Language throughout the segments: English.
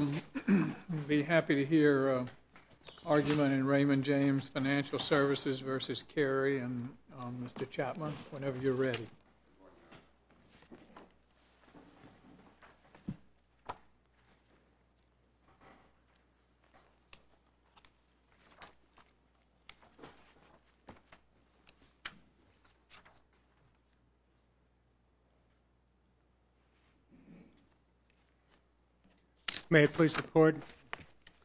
I'd be happy to hear an argument in Raymond James Financial Services v. Cary and Mr. Chapman whenever you're ready. May I please report?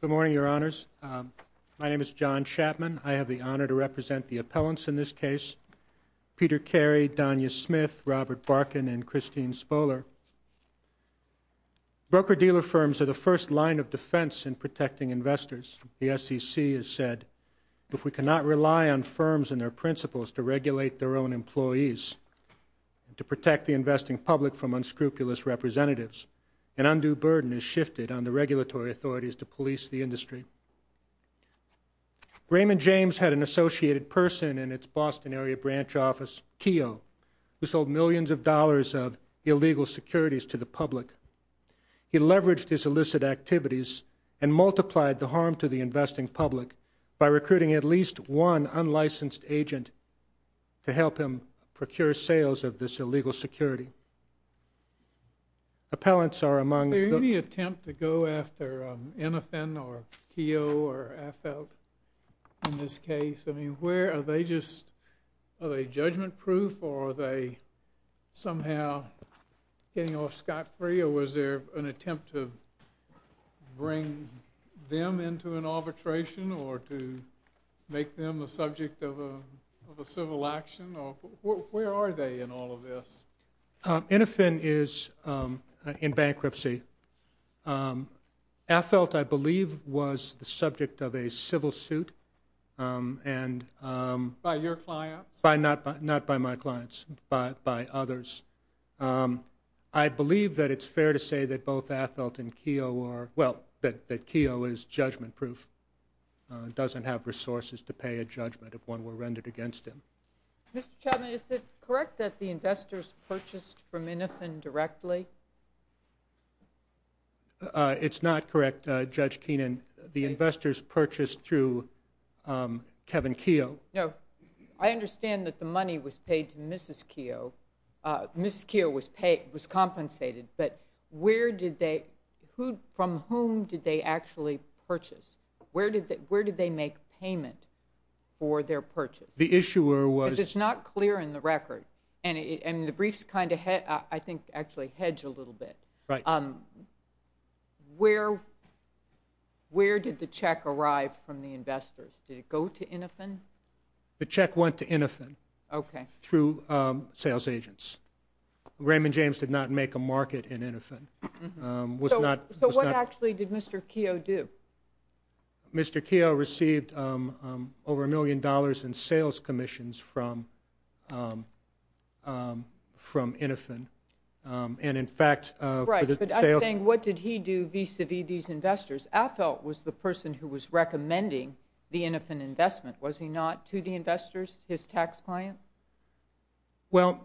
Good morning, Your Honors. My name is John Chapman. I have the honor to represent the appellants in this case, Peter Cary, Donya Smith, Robert Barkin and Christine Spoehler. Broker-dealer firms are the first line of defense in protecting investors. The SEC has said, if we cannot rely on firms and their principles to regulate their own employees and to protect the investing public from unscrupulous representatives, an undue burden is shifted on the regulatory authorities to police the industry. Raymond James had an associated person in its Boston-area branch office, Keogh, who sold millions of dollars of illegal securities to the public. He leveraged his illicit activities and multiplied the harm to the investing public by recruiting at least one unlicensed agent to help him procure sales of this illegal security. Appellants are among the... to go after Innofin or Keogh or AFLT in this case. I mean, where are they just... are they judgment-proof or are they somehow getting off scot-free or was there an attempt to bring them into an arbitration or to make them a subject of a civil action or... where are they in all of this? Innofin is in bankruptcy. AFLT, I believe, was the subject of a civil suit and... By your clients? Not by my clients, by others. I believe that it's fair to say that both AFLT and Keogh are... well, that Keogh is judgment-proof, doesn't have resources to pay a judgment if one were rendered against him. Mr. Chapman, is it correct that the investors purchased from Innofin directly? It's not correct, Judge Keenan. The investors purchased through Kevin Keogh. No. I understand that the money was paid to Mrs. Keogh. Mrs. Keogh was compensated, but where did they... from whom did they actually purchase? Where did they make payment for their purchase? The issuer was... Because it's not clear in the record, and the brief's kind of... I think actually hedged a little bit. Where did the check arrive from the investors? Did it go to Innofin? The check went to Innofin through sales agents. Raymond James did not make a market in Innofin. So what actually did Mr. Keogh do? Mr. Keogh received over a million dollars in sales commissions from Innofin, and in fact... Right, but I'm saying what did he do vis-à-vis these investors? AFLT was the person who was recommending the Innofin investment. Was he not to the investors, his tax client? Well,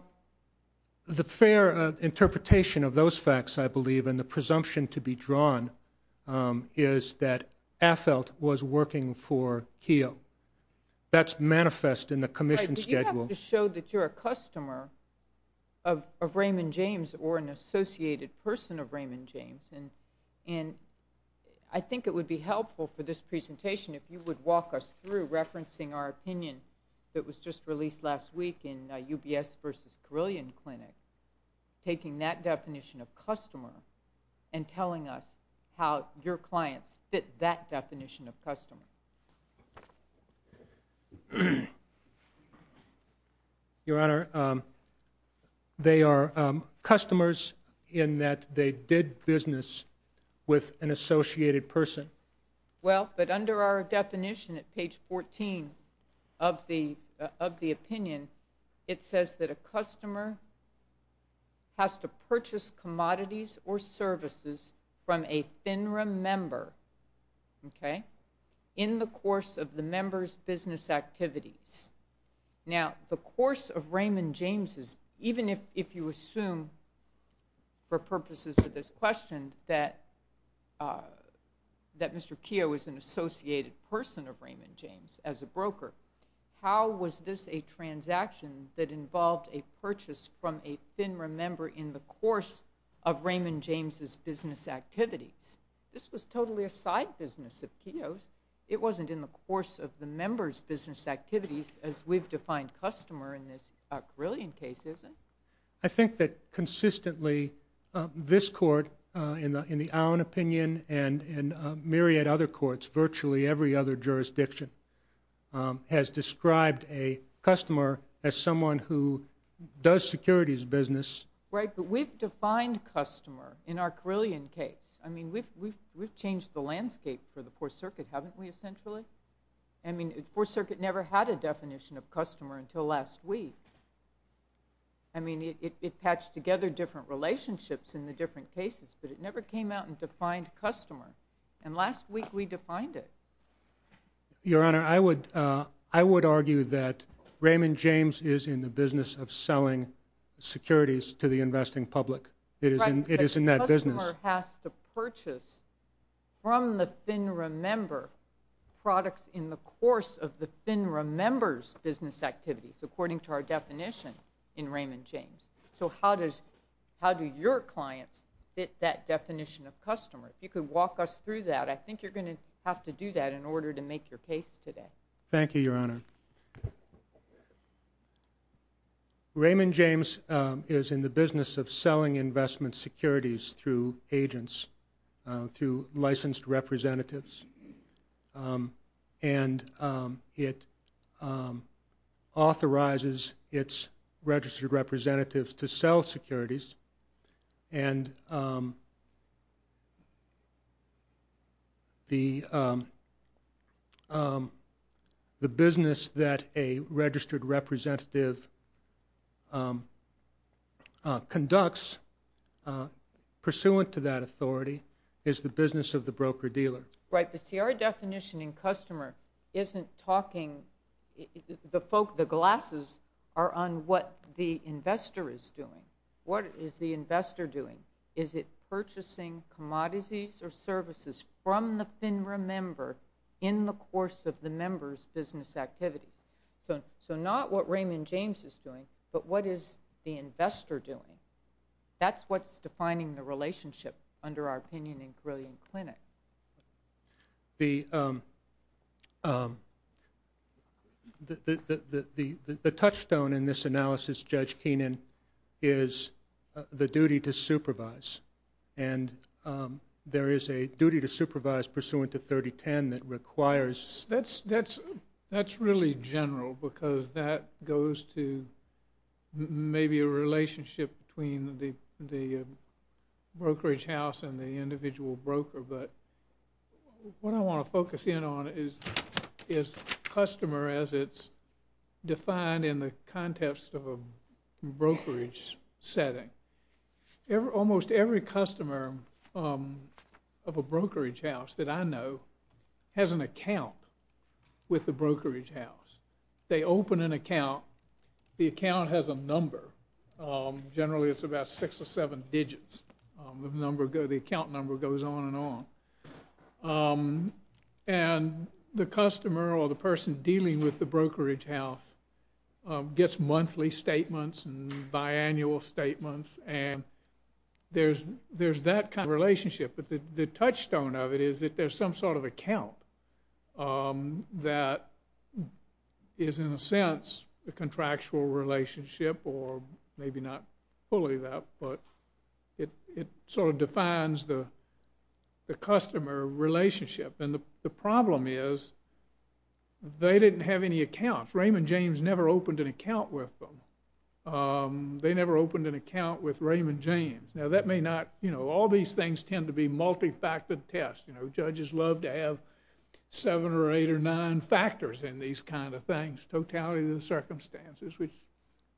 the fair interpretation of those facts, I believe, and the presumption to be drawn is that AFLT was working for Keogh. That's manifest in the commission schedule. Right, but you have to show that you're a customer of Raymond James or an associated person of Raymond James, and I think it would be helpful for this presentation if you would walk us through referencing our opinion that was just released last week in UBS versus how your clients fit that definition of customer. Your Honor, they are customers in that they did business with an associated person. Well, but under our definition at page 14 of the opinion, it says that a customer has to purchase commodities or services from a FINRA member in the course of the member's business activities. Now, the course of Raymond James, even if you assume for purposes of this question that Mr. Keogh is an associated person of Raymond James as a broker, how was this a transaction that involved a purchase from a FINRA member in the course of Raymond James' business activities? This was totally a side business of Keogh's. It wasn't in the course of the member's business activities as we've defined customer in this Carillion case, is it? I think that consistently this Court, in the Owen opinion and myriad other courts, virtually every other jurisdiction, has described a customer as someone who does securities business. Right, but we've defined customer in our Carillion case. I mean, we've changed the landscape for the Fourth Circuit, haven't we, essentially? I mean, the Fourth Circuit never had a definition of customer until last week. I mean, it patched together different relationships in the different jurisdictions. Your Honor, I would argue that Raymond James is in the business of selling securities to the investing public. It is in that business. Right, but the customer has to purchase from the FINRA member products in the course of the FINRA member's business activities, according to our definition in Raymond James. So how do your clients fit that definition of customer? If you could walk us through that, I think you're going to have to do that in order to make your case today. Thank you, Your Honor. Raymond James is in the business of selling investment securities through agents, through licensed representatives, and it authorizes its registered representatives to sell securities and the business that a registered representative conducts pursuant to that authority is the business of the broker-dealer. Right, but see, our definition in customer isn't talking, the glasses are on what the investor is doing. Is it purchasing commodities or services from the FINRA member in the course of the member's business activities? So not what Raymond James is doing, but what is the investor doing? That's what's defining the relationship under our opinion in Grillion Clinic. The touchstone in this analysis, Judge Keenan, is the duty to supervise. And there is a duty to supervise pursuant to 3010 that requires... That's really general because that goes to maybe a relationship between the brokerage house and the individual broker. But what I want to focus in on is customer as it's defined in the context of a brokerage setting. Almost every customer of a brokerage house that I know has an account with the brokerage house. They open an account. The account has a number. Generally it's about six or seven digits. The account number goes on and on. And the customer or the person dealing with the brokerage house gets monthly statements and biannual statements and there's that kind of relationship. But the touchstone of it or maybe not fully that, but it sort of defines the customer relationship. And the problem is they didn't have any accounts. Raymond James never opened an account with them. They never opened an account with Raymond James. Now that may not... All these things tend to be multifactored tests. Judges love to have seven or eight or nine factors in these kind of things, totality of the circumstances, which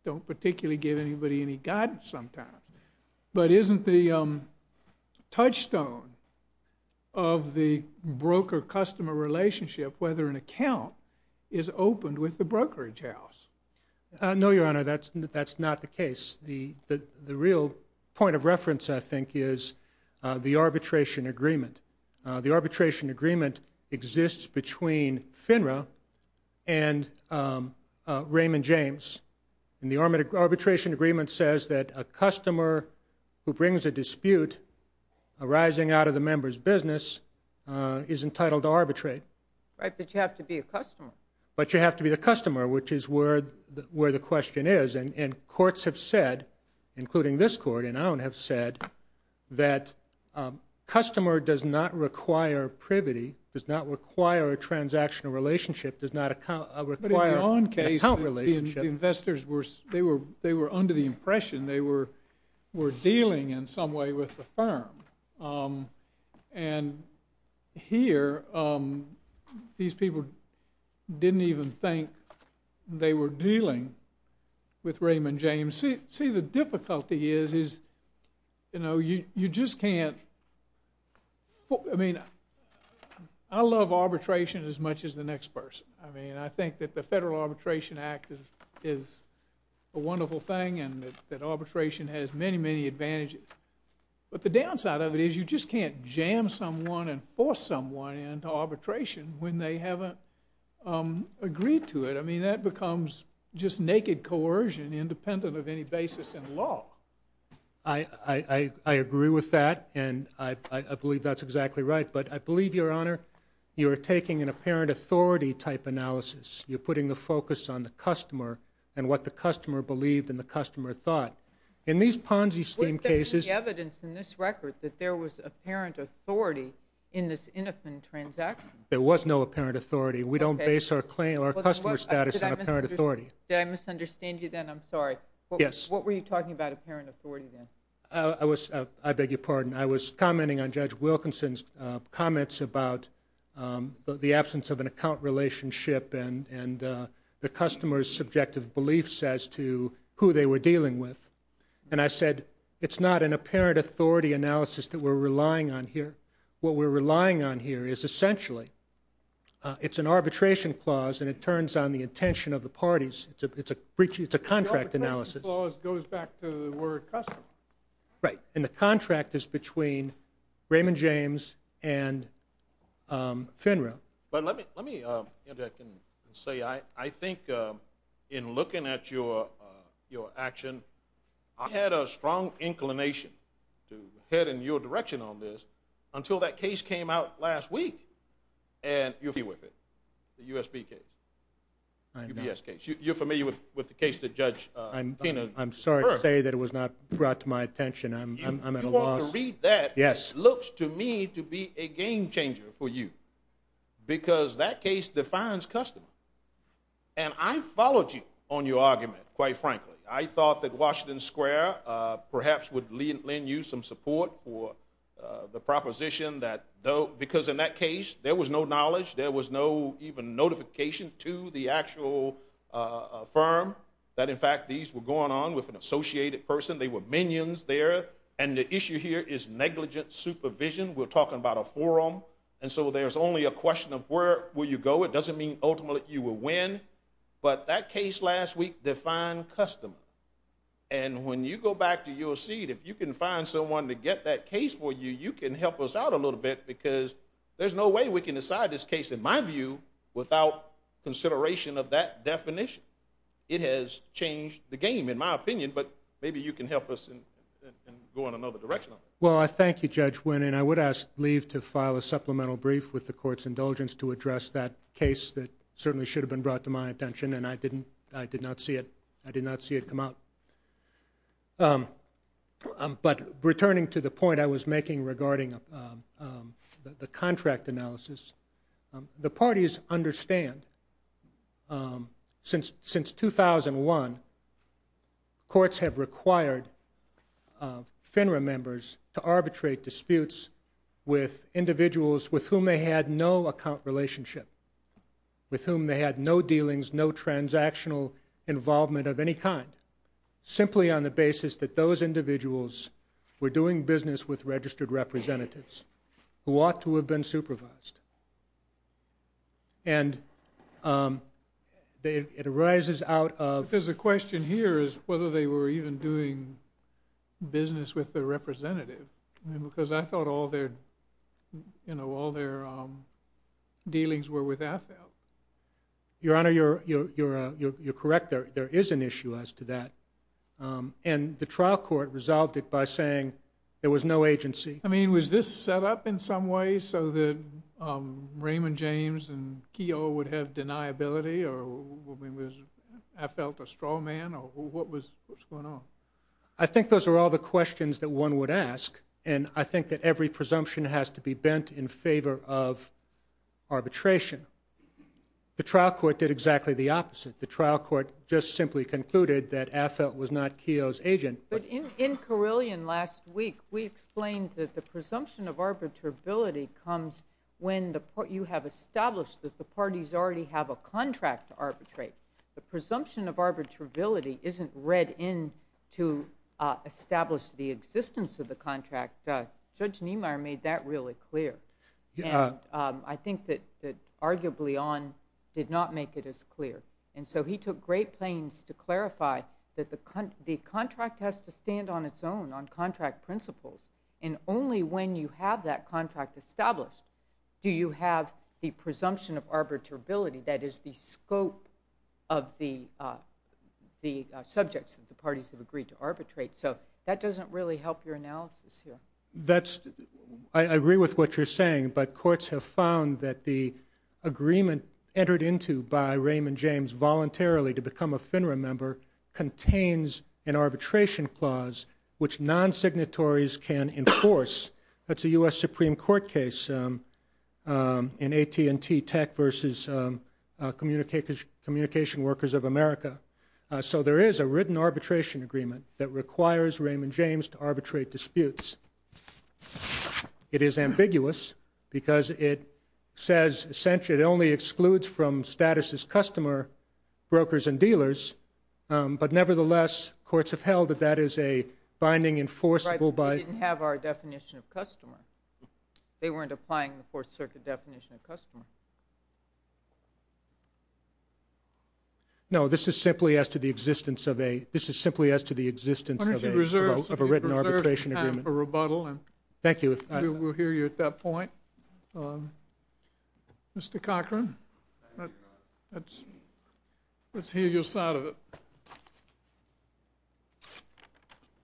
don't particularly give anybody any guidance sometimes. But isn't the touchstone of the broker-customer relationship whether an account is opened with the brokerage house? No, Your Honor, that's not the case. The real point of reference, I think, is the arbitration agreement. The arbitration agreement exists between FINRA and Raymond James. And the arbitration agreement says that a customer who brings a dispute arising out of the member's business is entitled to arbitrate. Right, but you have to be a customer. But you have to be the customer, which is where the question is. And courts have said, including this court and Allen have said, that customer does not require privity, does not require a transactional relationship, does not require an account relationship. But in your own case, the investors, they were under the impression they were dealing in some way with the firm. And here, these people didn't even think they were dealing with Raymond James. See, the difficulty is you just can't... I mean, I love arbitration as much as the next person. I mean, I think that the Federal Arbitration Act is a wonderful thing and that arbitration has many, many advantages. But the downside of it is you just can't jam someone and force someone into arbitration when they haven't agreed to it. I mean, that becomes just naked coercion independent of any basis in law. I agree with that and I believe that's exactly right. But I believe, Your Honor, you're taking an apparent authority type analysis. You're putting the focus on the customer and what the customer believed and the customer thought. In these Ponzi scheme cases... Wasn't there any evidence in this record that there was apparent authority in this Did I misunderstand you then? I'm sorry. Yes. What were you talking about apparent authority then? I beg your pardon. I was commenting on Judge Wilkinson's comments about the absence of an account relationship and the customer's subjective beliefs as to who they were dealing with. And I said, it's not an apparent authority analysis that we're relying on here. What we're relying on here is essentially it's an arbitration clause and it turns on the intention of the parties. It's a contract analysis. The arbitration clause goes back to the word customer. Right. And the contract is between Raymond James and FINRA. But let me interject and say I think in looking at your action, I had a strong inclination to head in your direction on this until that case came out last week. And you're familiar with it. The USB case. I know. UBS case. You're familiar with the case that Judge... I'm sorry to say that it was not brought to my attention. I'm at a loss. If you want to read that... Yes. It looks to me to be a game changer for you because that case defines customer. And I followed you on your argument, quite frankly. I thought that Washington Square perhaps would lend you some support for the proposition that because in that case, there was no knowledge. There was no even notification to the actual firm that in fact these were going on with an associated person. They were minions there. And the issue here is negligent supervision. We're talking about a forum. And so there's only a question of where will you go. It doesn't mean ultimately you will win. But that case last week defined customer. And when you go back to your seat, if you can find someone to get that case for you, you can help us out a little bit because there's no way we can decide this case, in my view, without consideration of that definition. It has changed the game, in my opinion. But maybe you can help us and go in another direction. Well, I thank you, Judge Wynne. And I would ask Lee to file a supplemental brief with the court's indulgence to address that case that certainly should have been brought to my attention and I did not see it come out. But returning to the point I was making regarding the contract analysis, the parties understand since 2001, courts have required FINRA members to arbitrate disputes with individuals with whom they had no account relationship, with whom they had no dealings, no transactional involvement of any kind, simply on the basis that those individuals were doing business with registered representatives who ought to have been supervised. And it arises out of... The question here is whether they were even doing business with the representative. Because I thought all their dealings were with AFELT. Your Honor, you're correct. There is an issue as to that. And the trial court resolved it by saying there was no agency. I mean, was this set up in some way so that Raymond James and Keogh would have deniability? Or was AFELT a straw man? Or what was going on? I think those are all the questions that one would ask. And I think that every presumption has to be bent in favor of arbitration. The trial court did exactly the opposite. The trial court just simply concluded that AFELT was not Keogh's agent. But in Carillion last week, we explained that the presumption of arbitrability comes when you have established that the parties already have a contract to arbitrate. The presumption of arbitrability isn't read in to establish the existence of the contract. Judge Niemeyer made that really clear. And I think that, arguably on, did not make it as clear. And so he took great pains to clarify that the contract has to stand on its own, on contract principles. And only when you have that contract established do you have the presumption of arbitrability that is the scope of the subjects that the parties have agreed to arbitrate. So that doesn't really help your analysis here. I agree with what you're saying, but courts have found that the agreement entered into by Raymond James voluntarily to become a FINRA member contains an arbitration clause which non-signatories can enforce. That's a U.S. Supreme Court case in AT&T Tech versus Communication Workers of America. So there is a written arbitration agreement that requires Raymond James to arbitrate disputes. It is ambiguous because it says essentially it only excludes from status as customer, brokers, and dealers. But nevertheless, courts have held that that is a binding enforceable by... definition of customer. They weren't applying the Fourth Circuit definition of customer. No, this is simply as to the existence of a written arbitration agreement. I'm going to reserve time for rebuttal and we'll hear you at that point. Mr. Cochran, let's hear your side of it.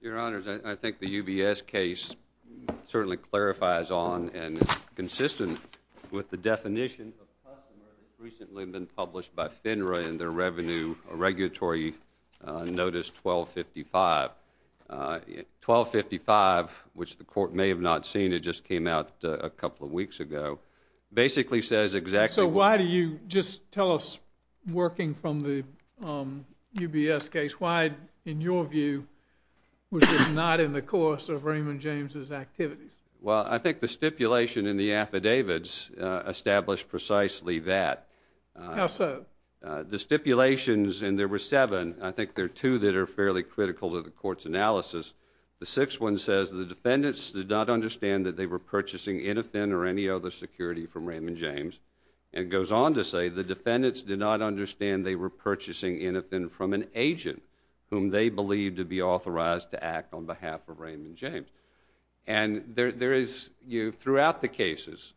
Your Honors, I think the UBS case certainly clarifies on and is consistent with the definition of customer that's recently been published by FINRA in their Revenue Regulatory Notice 1255. 1255, which the court may have not seen, it just came out a couple of weeks ago, basically says exactly... So why do you... just tell us, working from the UBS case, why, in your view, was it not in the course of Raymond James' activities? Well, I think the stipulation in the affidavits established precisely that. How so? The stipulations, and there were seven, I think there are two that are fairly critical to the court's analysis. The sixth one says the defendants did not understand that they were purchasing anything or any other security from Raymond James. And it goes on to say the defendants did not understand they were purchasing anything from an agent whom they believed to be authorized to act on behalf of Raymond James. And there is, throughout the cases,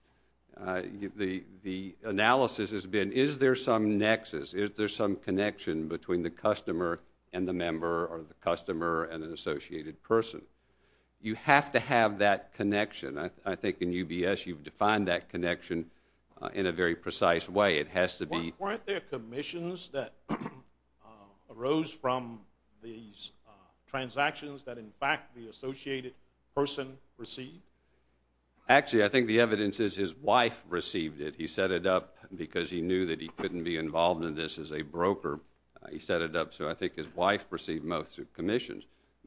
the analysis has been, is there some nexus, is there some connection between the customer and the member or the customer and an associated person? You have to have that connection. I think in UBS you've defined that connection in a very precise way. It has to be... Weren't there commissions that arose from these transactions that, in fact, the associated person received? Actually, I think the evidence is his wife received it. He set it up because he knew that he couldn't be involved in this as a broker. He set it up so I think his wife received most of the commissions.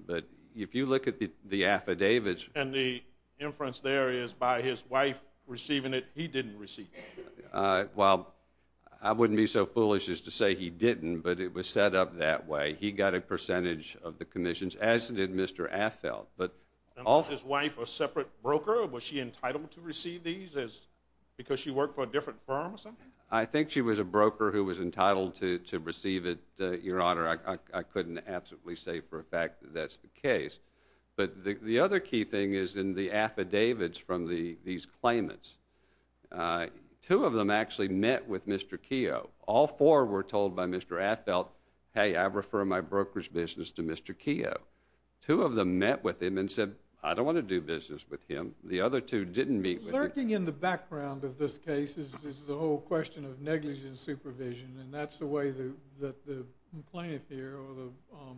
But if you look at the affidavits... And the inference there is by his wife receiving it, he didn't receive it. Well, I wouldn't be so foolish as to say he didn't, but it was set up that way. He got a percentage of the commissions, as did Mr. Affeld. Was his wife a separate broker? Was she entitled to receive these because she worked for a different firm or something? I think she was a broker who was entitled to receive it, Your Honor. But the other key thing is in the affidavits from these claimants. Two of them actually met with Mr. Keogh. All four were told by Mr. Affeld, Hey, I refer my broker's business to Mr. Keogh. Two of them met with him and said, I don't want to do business with him. The other two didn't meet with him. Lurking in the background of this case is the whole question of negligence supervision, and that's the way that the claimant here or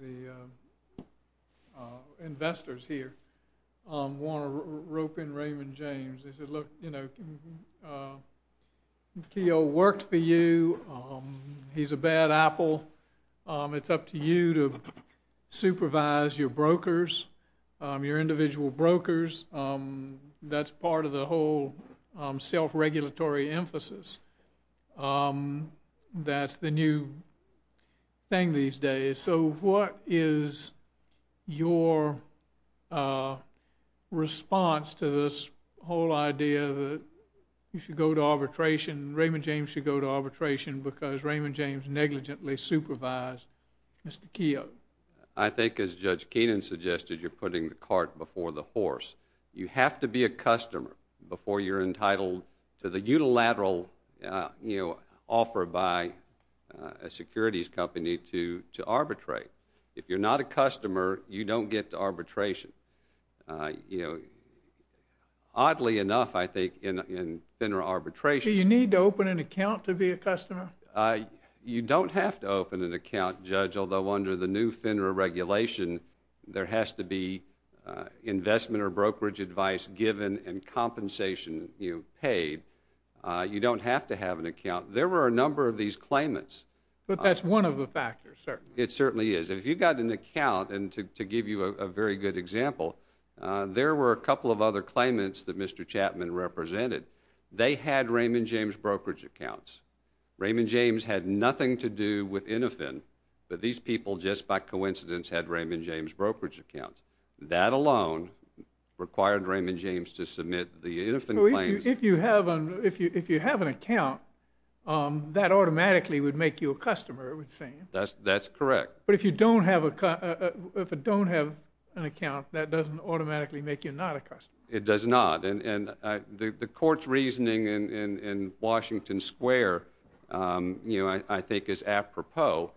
the investors here want to rope in Raymond James. They said, look, Keogh worked for you. He's a bad apple. It's up to you to supervise your brokers, your individual brokers. That's part of the whole self-regulatory emphasis. That's the new thing these days. So what is your response to this whole idea that you should go to arbitration, Raymond James should go to arbitration because Raymond James negligently supervised Mr. Keogh? I think, as Judge Keenan suggested, you're putting the cart before the horse. You have to be a customer before you're entitled to the unilateral offer by a securities company to arbitrate. If you're not a customer, you don't get to arbitration. Oddly enough, I think, in arbitration— Do you need to open an account to be a customer? You don't have to open an account, Judge, although under the new FINRA regulation, there has to be investment or brokerage advice given and compensation paid. You don't have to have an account. There were a number of these claimants. But that's one of the factors, certainly. It certainly is. If you got an account—and to give you a very good example, there were a couple of other claimants that Mr. Chapman represented. They had Raymond James brokerage accounts. Raymond James had nothing to do with Innofin, but these people just by coincidence had Raymond James brokerage accounts. That alone required Raymond James to submit the Innofin claims— If you have an account, that automatically would make you a customer, it would seem. That's correct. But if you don't have an account, that doesn't automatically make you not a customer. It does not. The court's reasoning in Washington Square, I think, is apropos.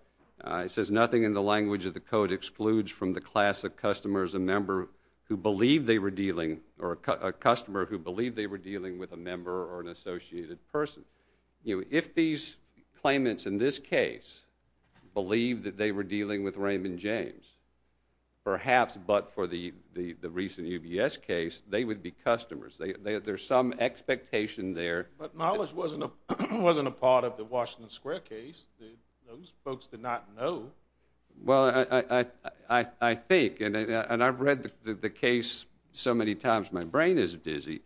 It says, Nothing in the language of the Code excludes from the class of customer who believed they were dealing with a member or an associated person. If these claimants in this case believed that they were dealing with Raymond James, perhaps, but for the recent UBS case, they would be customers. There's some expectation there— But knowledge wasn't a part of the Washington Square case. Those folks did not know. Well, I think, and I've read the case so many times, my brain is dizzy,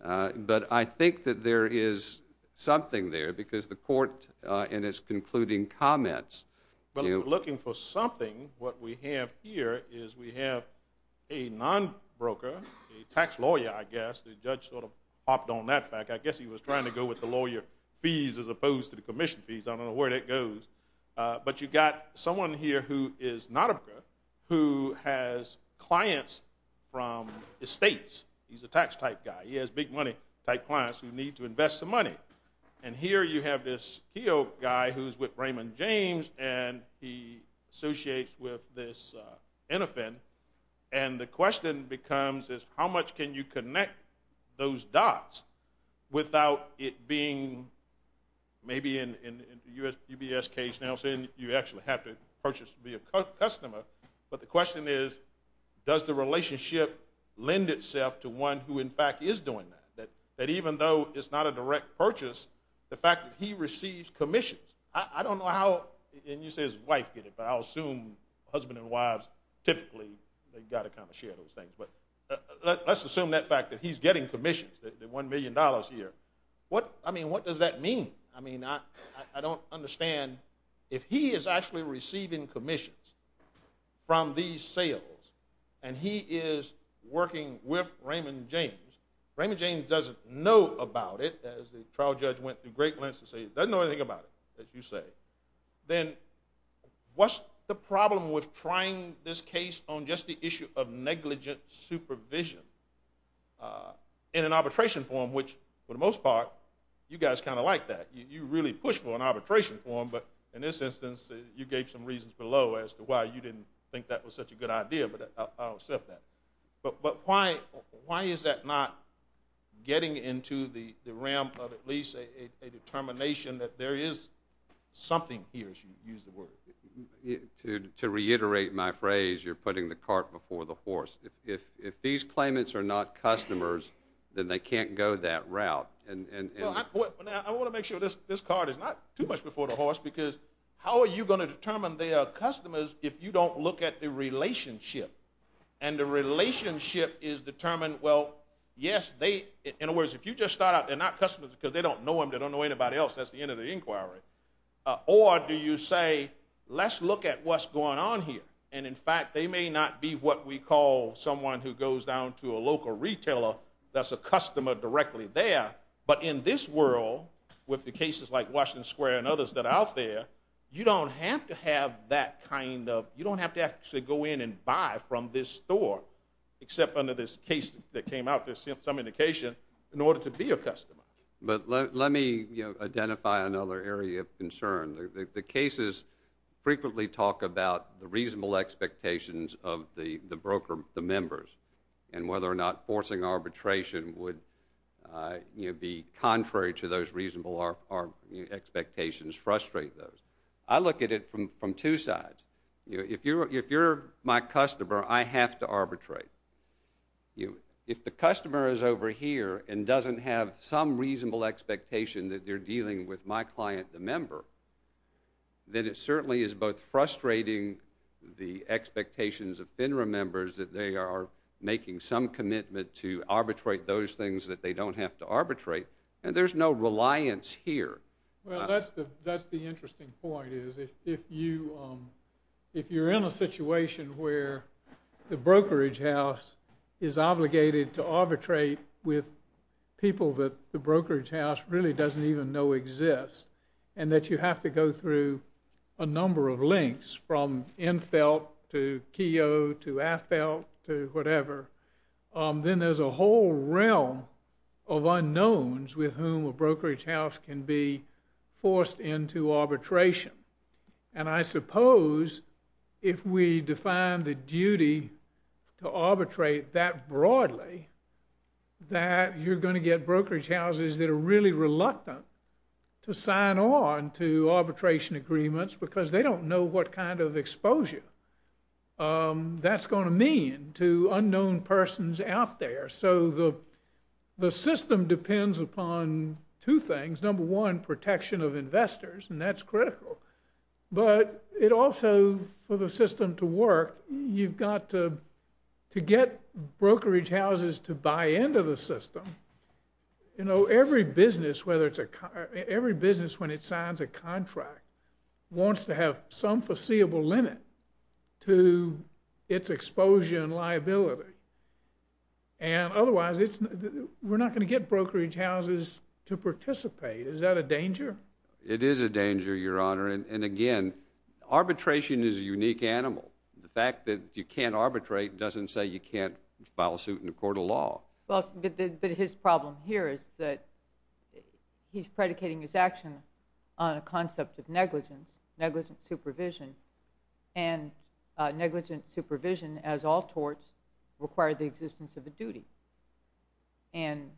but I think that there is something there because the court in its concluding comments— If you're looking for something, what we have here is we have a non-broker, a tax lawyer, I guess. The judge sort of popped on that fact. I guess he was trying to go with the lawyer fees as opposed to the commission fees. I don't know where that goes. But you've got someone here who is not a broker, who has clients from estates. He's a tax-type guy. He has big-money-type clients who need to invest some money. And here you have this HEO guy who's with Raymond James, and he associates with this Innofin. And the question becomes is, how much can you connect those dots without it being— Maybe in the UBS case now, you actually have to purchase to be a customer. But the question is, does the relationship lend itself to one who, in fact, is doing that? That even though it's not a direct purchase, the fact that he receives commissions— I don't know how— And you say his wife did it, but I'll assume husband and wives typically, they've got to kind of share those things. But let's assume that fact that he's getting commissions, the $1 million a year. I mean, what does that mean? I mean, I don't understand. If he is actually receiving commissions from these sales, and he is working with Raymond James, Raymond James doesn't know about it, as the trial judge went through great lengths to say, doesn't know anything about it, as you say, then what's the problem with trying this case on just the issue of negligent supervision in an arbitration form, which for the most part, you guys kind of like that. You really push for an arbitration form, but in this instance, you gave some reasons below as to why you didn't think that was such a good idea, but I'll accept that. But why is that not getting into the realm of at least a determination that there is something here, as you use the word? To reiterate my phrase, you're putting the cart before the horse. If these claimants are not customers, then they can't go that route. I want to make sure this cart is not too much before the horse, because how are you going to determine they are customers if you don't look at the relationship? And the relationship is determined, well, yes, in other words, if you just start out, they're not customers because they don't know anybody else. That's the end of the inquiry. Or do you say, let's look at what's going on here, and in fact, they may not be what we call someone who goes down to a local retailer that's a customer directly there, but in this world, with the cases like Washington Square and others that are out there, you don't have to have that kind of, you don't have to actually go in and buy from this store, except under this case that came out, as some indication, in order to be a customer. But let me identify another area of concern. The cases frequently talk about the reasonable expectations of the broker, the members, and whether or not forcing arbitration would be contrary to those reasonable expectations, frustrate those. I look at it from two sides. If you're my customer, I have to arbitrate. If the customer is over here and doesn't have some reasonable expectation that they're dealing with my client, the member, then it certainly is both frustrating the expectations of FINRA members that they are making some commitment to arbitrate those things that they don't have to arbitrate, and there's no reliance here. Well, that's the interesting point, is if you're in a situation where the brokerage house is obligated to arbitrate with people that the brokerage house really doesn't even know exist, and that you have to go through a number of links, from Enfelt to Keogh to Affelt to whatever, then there's a whole realm of unknowns with whom a brokerage house can be forced into arbitration. And I suppose if we define the duty to arbitrate that broadly, that you're going to get brokerage houses that are really reluctant to sign on to arbitration agreements because they don't know what kind of exposure that's going to mean to unknown persons out there. So the system depends upon two things. Number one, protection of investors, and that's critical. But it also, for the system to work, you've got to get brokerage houses to buy into the system. You know, every business, whether it's a every business, when it signs a contract, wants to have some foreseeable limit to its exposure and liability. And otherwise, we're not going to get brokerage houses to participate. Is that a danger? It is a danger, Your Honor. And again, arbitration is a unique animal. The fact that you can't arbitrate doesn't say you can't file suit in a court of law. But his problem here is that he's predicating his action on a concept of negligence, negligent supervision. And negligent supervision, as all torts, require the existence of a duty. And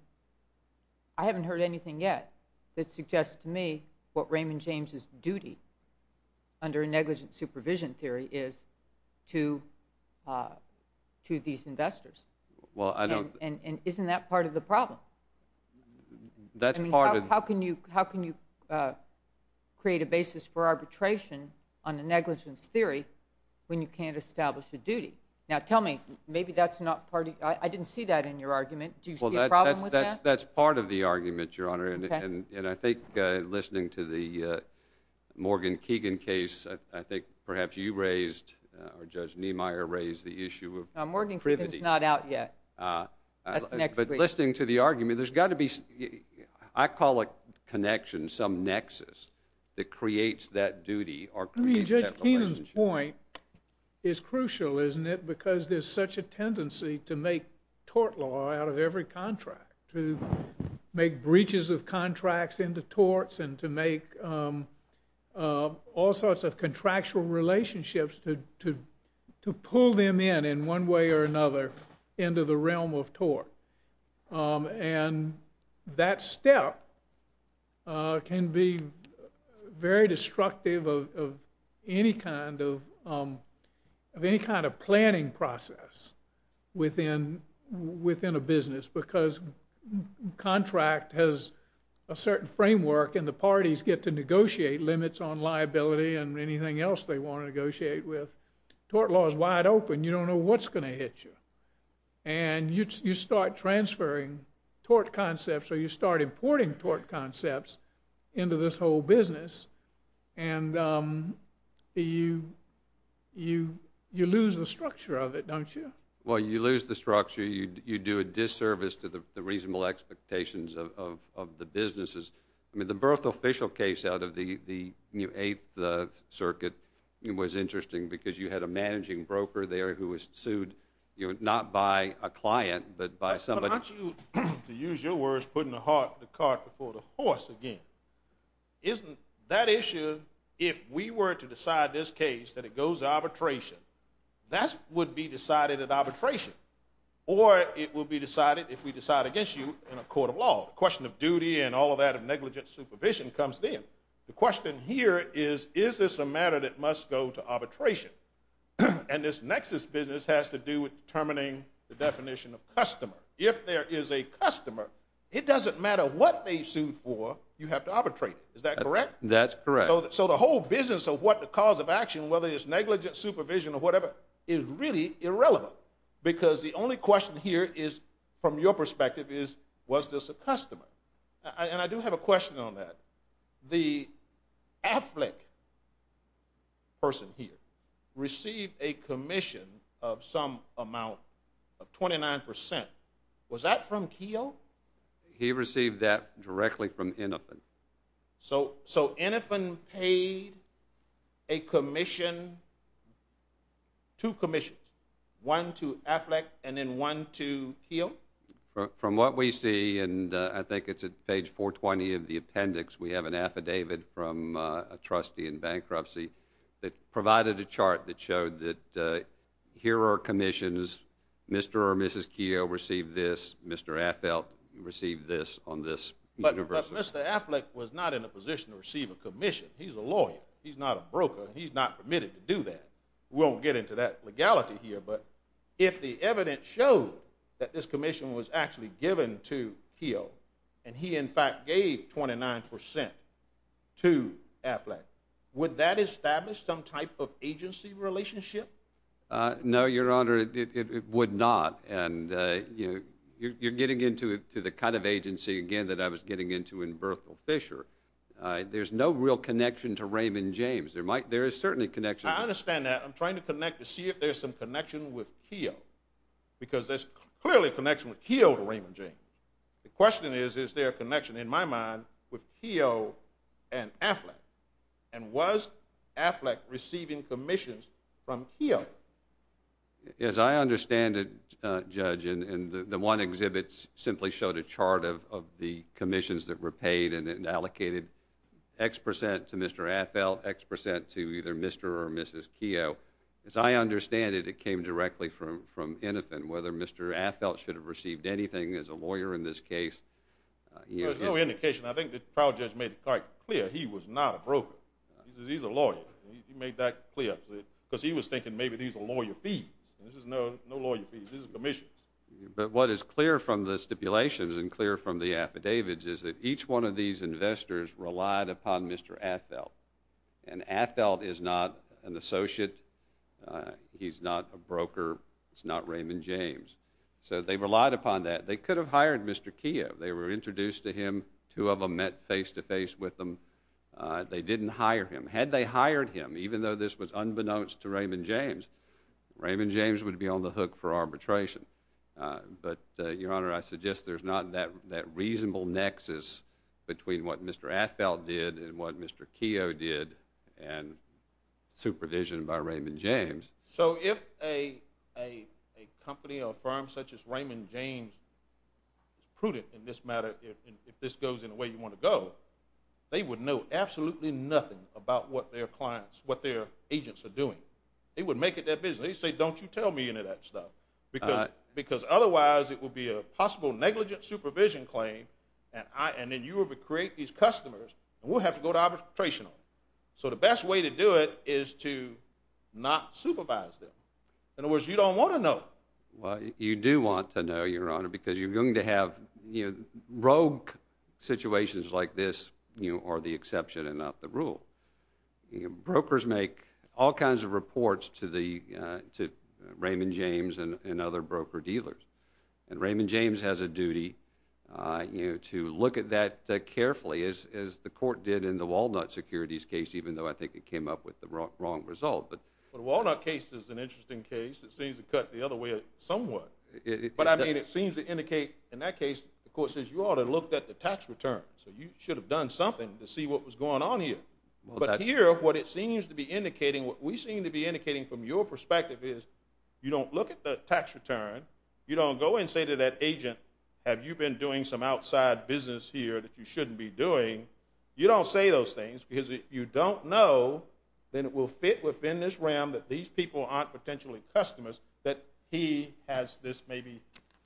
I haven't heard anything yet that suggests to me what Raymond James' duty under negligent supervision theory is to these investors. And isn't that part of the problem? How can you create a basis for arbitration on a negligence theory when you can't establish a duty? Now tell me maybe that's not part of... I didn't see that in your argument. Do you see a problem with that? That's part of the argument, Your Honor. And I think listening to the Morgan-Keegan case, I think perhaps you raised or Judge Niemeyer raised the issue of privity. Morgan-Keegan's not out yet. That's next week. But listening to the argument, there's got to be I call it connection, some nexus that creates that duty or creates that relationship. Judge Keenan's point is crucial, isn't it, because there's such a tendency to make tort law out of every contract, to make breaches of contracts into torts and to make all sorts of contractual relationships to pull them in in one way or another into the realm of tort. And that step can be very destructive of any kind of planning process within a business because contract has a certain framework and the parties get to negotiate limits on liability and anything else they want to negotiate with. Tort law is wide open. You don't know what's going to hit you. And you start transferring tort concepts or you start importing tort concepts into this whole business and you lose the structure of it, don't you? Well, you lose the structure, you do a disservice to the reasonable expectations of the businesses. I mean, the birth official case out of the 8th Circuit was interesting because you had a managing broker there who was sued, not by a client, but by somebody. But aren't you, to use your words, putting the cart before the horse again? Isn't that issue if we were to decide this case that it goes to arbitration, that would be decided at arbitration or it would be decided if we decide against you in a court of law. The question of duty and all of that of negligent supervision comes then. The question here is, is this a matter that must go to arbitration? And this nexus business has to do with determining the definition of customer. If there is a customer, it doesn't matter what they sued for, you have to arbitrate it. Is that correct? That's correct. So the whole business of what the cause of action, whether it's negligent supervision or whatever, is really irrelevant because the only question here is from your perspective is was this a customer? And I do have a question on that. The AFLIC person here received a commission of some amount of 29%. Was that from Keogh? He received that directly from Innofen. So Innofen paid a commission two commissions, one to AFLIC and then one to Keogh? From what we see and I think it's at page 420 of the appendix, we have an affidavit from a trustee in bankruptcy that provided a chart that showed that here are commissions, Mr. or Mrs. Keogh received this, Mr. AFLIC received this on this. But Mr. AFLIC was not in a position to receive a commission. He's a lawyer. He's not a broker. He's not permitted to do that. We won't get into that legality here, but if the evidence showed that this commission was actually given to Keogh and he in fact gave 29% to AFLIC, would that establish some type of agency relationship? No, Your Honor, it would not and you're getting into the kind of agency again that I was getting into in Berthel Fisher. There's no real connection to Raymond James. There is certainly connection. I understand that. I'm trying to connect to see if there's some connection with Keogh because there's clearly connection with Keogh to Raymond James. The question is, is there a connection in my mind with Keogh and AFLIC and was AFLIC receiving commissions from Keogh? As I understand it, the one exhibit simply showed a chart of the commissions that were paid and allocated X% to Mr. Affeld, X% to either Mr. or Mrs. Keogh. As I understand it, it came directly from Innofen whether Mr. Affeld should have received anything as a lawyer in this case. There's no indication. I think the trial judge made it quite clear he was not a broker. He's a lawyer. He made that clear because he was thinking maybe these are lawyer fees. This is no lawyer fees. This is commissions. But what is clear from the stipulations and clear from the affidavits is that each one of these investors relied upon Mr. Affeld and Affeld is not an associate. He's not a broker. It's not Raymond James. So they relied upon that. They could have hired Mr. Keogh. They were introduced to him. Two of them met face-to-face with him. They didn't hire him. Had they hired him, even though this was unbeknownst to Raymond James would be on the hook for arbitration. But, Your Honor, I suggest there's not that reasonable nexus between what Mr. Affeld did and what Mr. Keogh did and supervision by Raymond James. So if a company or firm such as Raymond James is prudent in this matter if this goes in the way you want to go, they would know absolutely nothing about what their agents are doing. They would make it their business. They'd say, don't you tell me any of that stuff. Because otherwise it would be a possible negligent supervision claim and then you would create these customers and we'll have to go to arbitration. So the best way to do it is to not supervise them. In other words, you don't want to know. Well, you do want to know, Your Honor, because you're going to have rogue situations like this are the exception and not the rule. Brokers make all kinds of reports to Raymond James and other broker dealers. And Raymond James has a duty to look at that carefully as the court did in the Walnut Securities case even though I think it came up with the wrong result. The Walnut case is an interesting case. It seems to cut the other way somewhat. But I mean it seems to indicate in that case the court says you ought to look at the tax return. So you should have done something to see what was going on here. But here what it seems to be indicating what we seem to be indicating from your perspective is you don't look at the tax return. You don't go and say to that agent, have you been doing some outside business here that you shouldn't be doing. You don't say those things because if you don't know then it will fit within this realm that that he has this maybe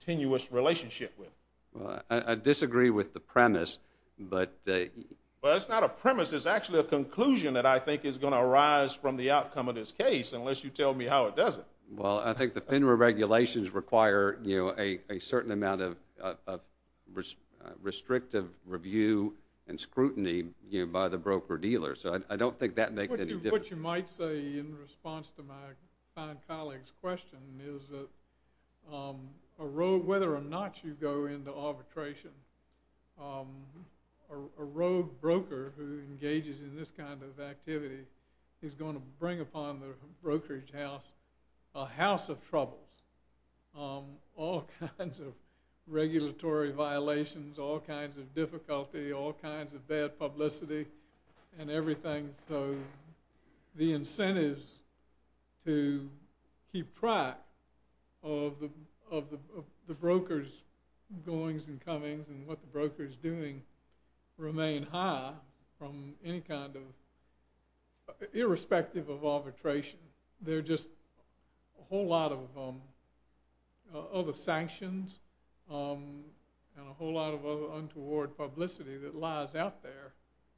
tenuous relationship with. I disagree with the premise but it's not a premise. It's actually a conclusion that I think is going to arise from the outcome of this case unless you tell me how it doesn't. Well I think the FINRA regulations require a certain amount of restrictive review and scrutiny by the broker-dealer. So I don't think that makes any difference. What you might say in response to my fine colleague's question is that whether or not you go into arbitration a rogue broker who engages in this kind of activity is going to bring upon the brokerage house a house of troubles. All kinds of regulatory violations, all kinds of difficulty, all kinds of bad publicity and everything so the incentives to keep track of the and what the broker is doing remain high from any kind of irrespective of arbitration they're just a whole lot of other sanctions and a whole lot of other untoward publicity that lies out there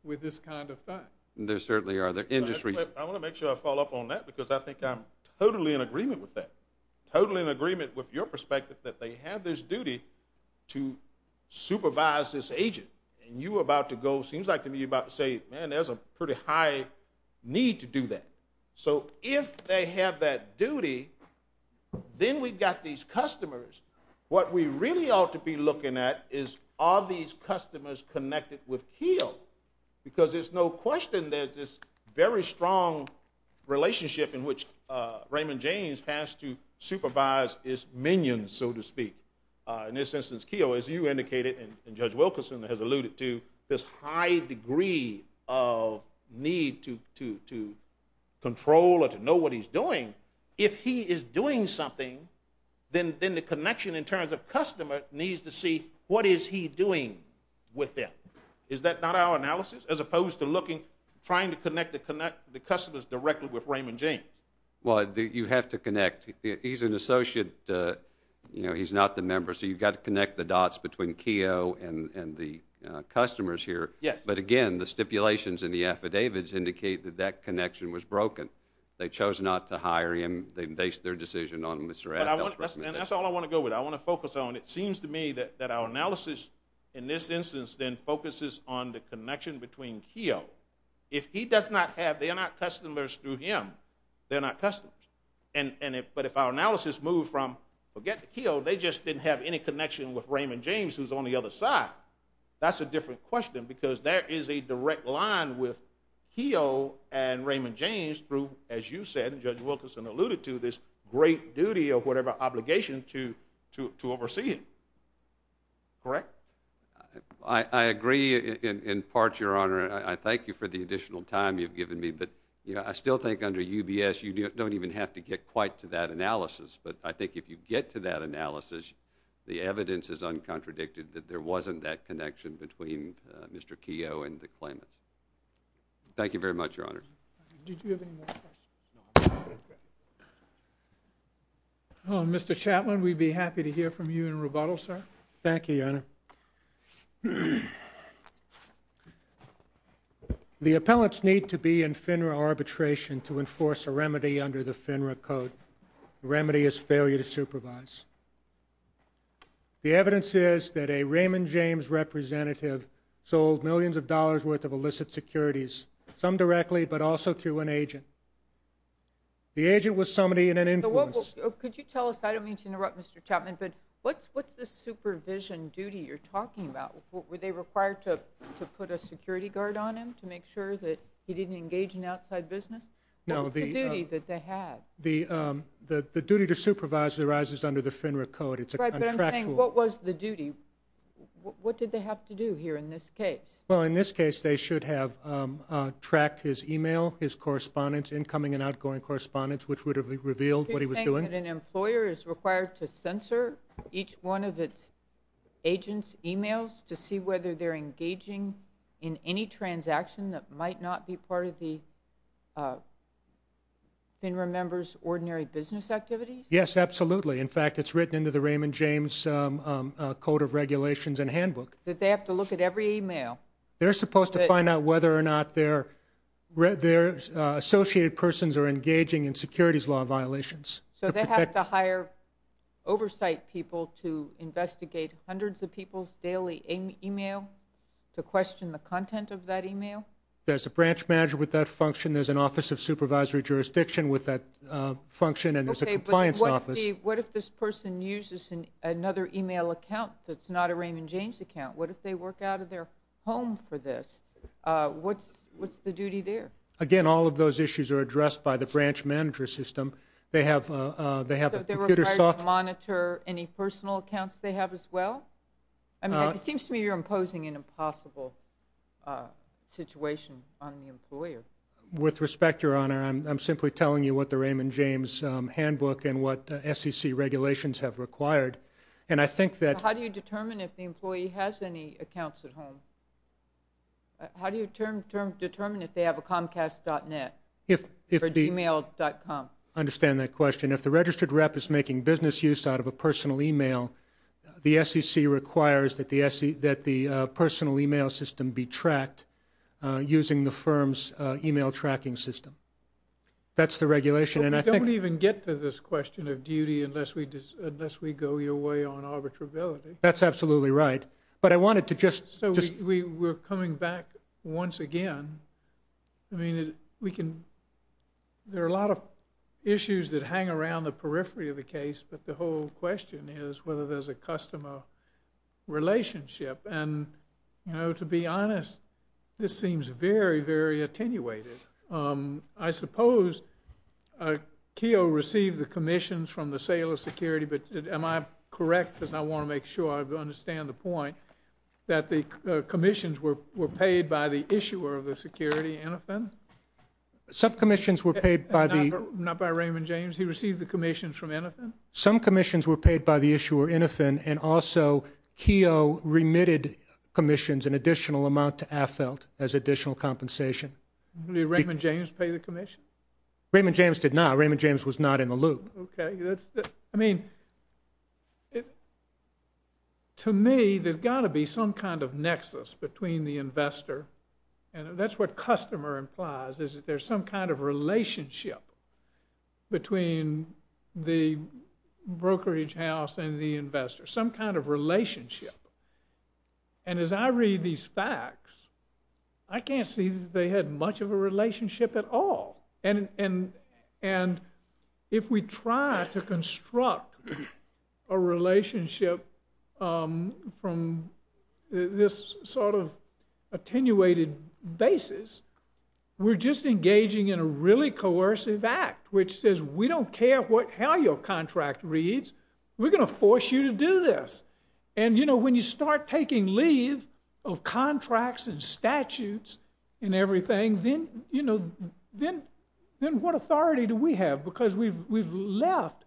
with this kind of thing. There certainly are. I want to make sure I follow up on that because I think I'm totally in agreement with that. Totally in agreement with your perspective that they have this duty to supervise this agent and you were about to go, seems like to me you were about to say man there's a pretty high need to do that. So if they have that duty then we've got these customers what we really ought to be looking at is are these customers connected with Keogh because there's no question there's this very strong relationship in which Raymond James has to supervise his minions so to speak. In this instance Keogh as you indicated and Judge Wilkerson has alluded to this high degree of need to control or to know what he's doing. If he is doing something then the connection in terms of customer needs to see what is he doing with them. Is that not our analysis as opposed to looking trying to connect the customers directly with Raymond James. Well you have to connect. He's an associate you know he's not the member so you've got to connect the dots between Keogh and the customers here. Yes. But again the stipulations in the affidavits indicate that that connection was broken. They chose not to hire him. They based their decision on Mr. Addell's recommendation. And that's all I want to go with. I want to focus on it seems to me that our analysis in this instance then focuses on the connection between Keogh. If he does not have, they are not customers through him they are not customers. But if our analysis moves from forget Keogh they just didn't have any connection with Raymond James who is on the other side. That's a different question because there is a direct line with Keogh and Raymond James through as you said and Judge Wilkinson alluded to this great duty or whatever obligation to oversee him. Correct? I agree in part your honor and I thank you for the additional time you've given me but I still think under UBS you don't even have to get quite to that analysis but I think if you get to that analysis the evidence is uncontradicted that there wasn't that connection between Mr. Keogh and the claimants. Thank you very much your honor. Did you have any more questions? Mr. Chatelain we'd be happy to hear from you in rebuttal sir. Thank you your honor. The appellants need to be in FINRA arbitration to enforce a remedy under the FINRA code. The remedy is failure to supervise. The evidence is that a Raymond James representative sold millions of dollars worth of illicit securities some directly but also through an agent. The agent was somebody in an influence. Could you tell us, I don't mean to interrupt Mr. Chatelain but what's the supervision duty you're talking about? Were they required to put a security guard on him to make sure that he didn't engage in outside business? What was the duty that they had? The duty to supervise arises under the FINRA code. What was the duty? What did they have to do here in this case? Well in this case they should have tracked his email, his correspondence incoming and outgoing correspondence which would have revealed what he was doing. Do you think that an employer is required to censor each one of its agents emails to see whether they're engaging in any transaction that might not be part of the FINRA members ordinary business activities? Yes, absolutely. In fact it's written into the Raymond James code of regulations and handbook. That they have to look at every email? They're supposed to find out whether or not their associated persons are engaging in securities law violations. So they have to hire oversight people to investigate hundreds of people's daily email to question the content of that email? There's a branch manager with that function. There's an office of supervisory jurisdiction with that function and there's a compliance office. What if this person uses another email account that's not a Raymond James account? What if they work out of their home for this? What's the duty there? Again, all of those issues are addressed by the branch manager system. They have to monitor any personal accounts they have as well? It seems to me you're imposing an impossible situation on the employer. With respect, Your Honor, I'm simply telling you what the Raymond James handbook and what SEC regulations have required. How do you determine if the employee has any accounts at home? How do you determine if they have a comcast.net? Or gmail.com? I don't understand that question. If the registered rep is making business use out of a personal email, the SEC requires that the personal email system be tracked using the firm's email tracking system. That's the regulation. We don't even get to this question of duty unless we go your way on arbitrability. That's absolutely right. We're coming back once again. I mean, there are a lot of issues that hang around the periphery of the case, but the whole question is whether there's a customer relationship. To be honest, this seems very, very attenuated. I suppose Keogh received the commissions from the sale of security but am I correct? I want to make sure I understand the point that the commissions were paid by the issuer of the security, Innofin? Not by Raymond James? He received the commissions from Innofin? Some commissions were paid by the issuer, Innofin, and also Keogh remitted commissions an additional amount to AFLT as additional compensation. Did Raymond James pay the commission? Raymond James did not. Raymond James was not in the loop. I mean, to me, there's got to be some kind of nexus between the investor and that's what customer implies, is that there's some kind of relationship between the brokerage house and the investor. Some kind of relationship. And as I read these facts, I can't see that they had much of a relationship at all. And if we try to construct a relationship from this sort of attenuated basis, we're just engaging in a really coercive act, which says, we don't care how your contract reads, we're going to force you to do this. And when you start taking leave of contracts and statutes and everything, then what authority do we have? Because we've left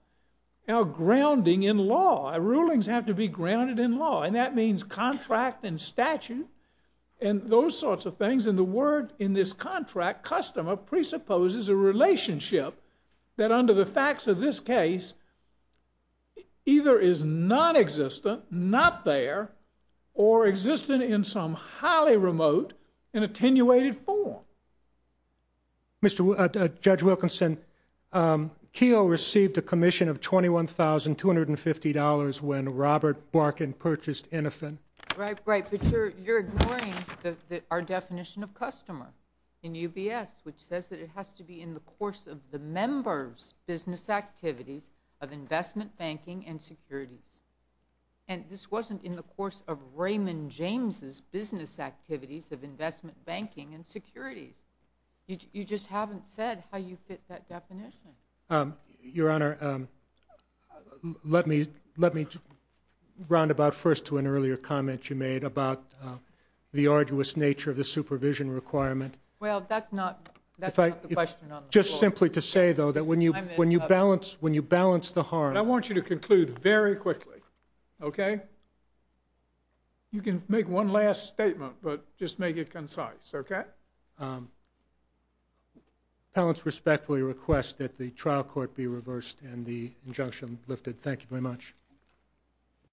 our grounding in law. Our rulings have to be grounded in law. And that means contract and statute and those sorts of things. And the word in this contract, customer, presupposes a relationship that under the facts of this case either is nonexistent, not there, or existent in some highly remote and attenuated form. Judge Wilkinson, Keogh received a commission of $21,250 when Robert Barkin purchased Innofin. Right, but you're ignoring our definition of customer in UBS, which says that it has to be in the course of the member's business activities of investment banking and securities. And this wasn't in the course of Raymond James' business activities of investment banking and securities. You just haven't said how you fit that in there. Let me round about first to an earlier comment you made about the arduous nature of the supervision requirement. Well, that's not the question on the floor. Just simply to say, though, that when you balance the harm... I want you to conclude very quickly. Okay? You can make one last statement but just make it concise. Okay? Appellants respectfully request that the trial court be reversed and the injunction lifted. Thank you very much.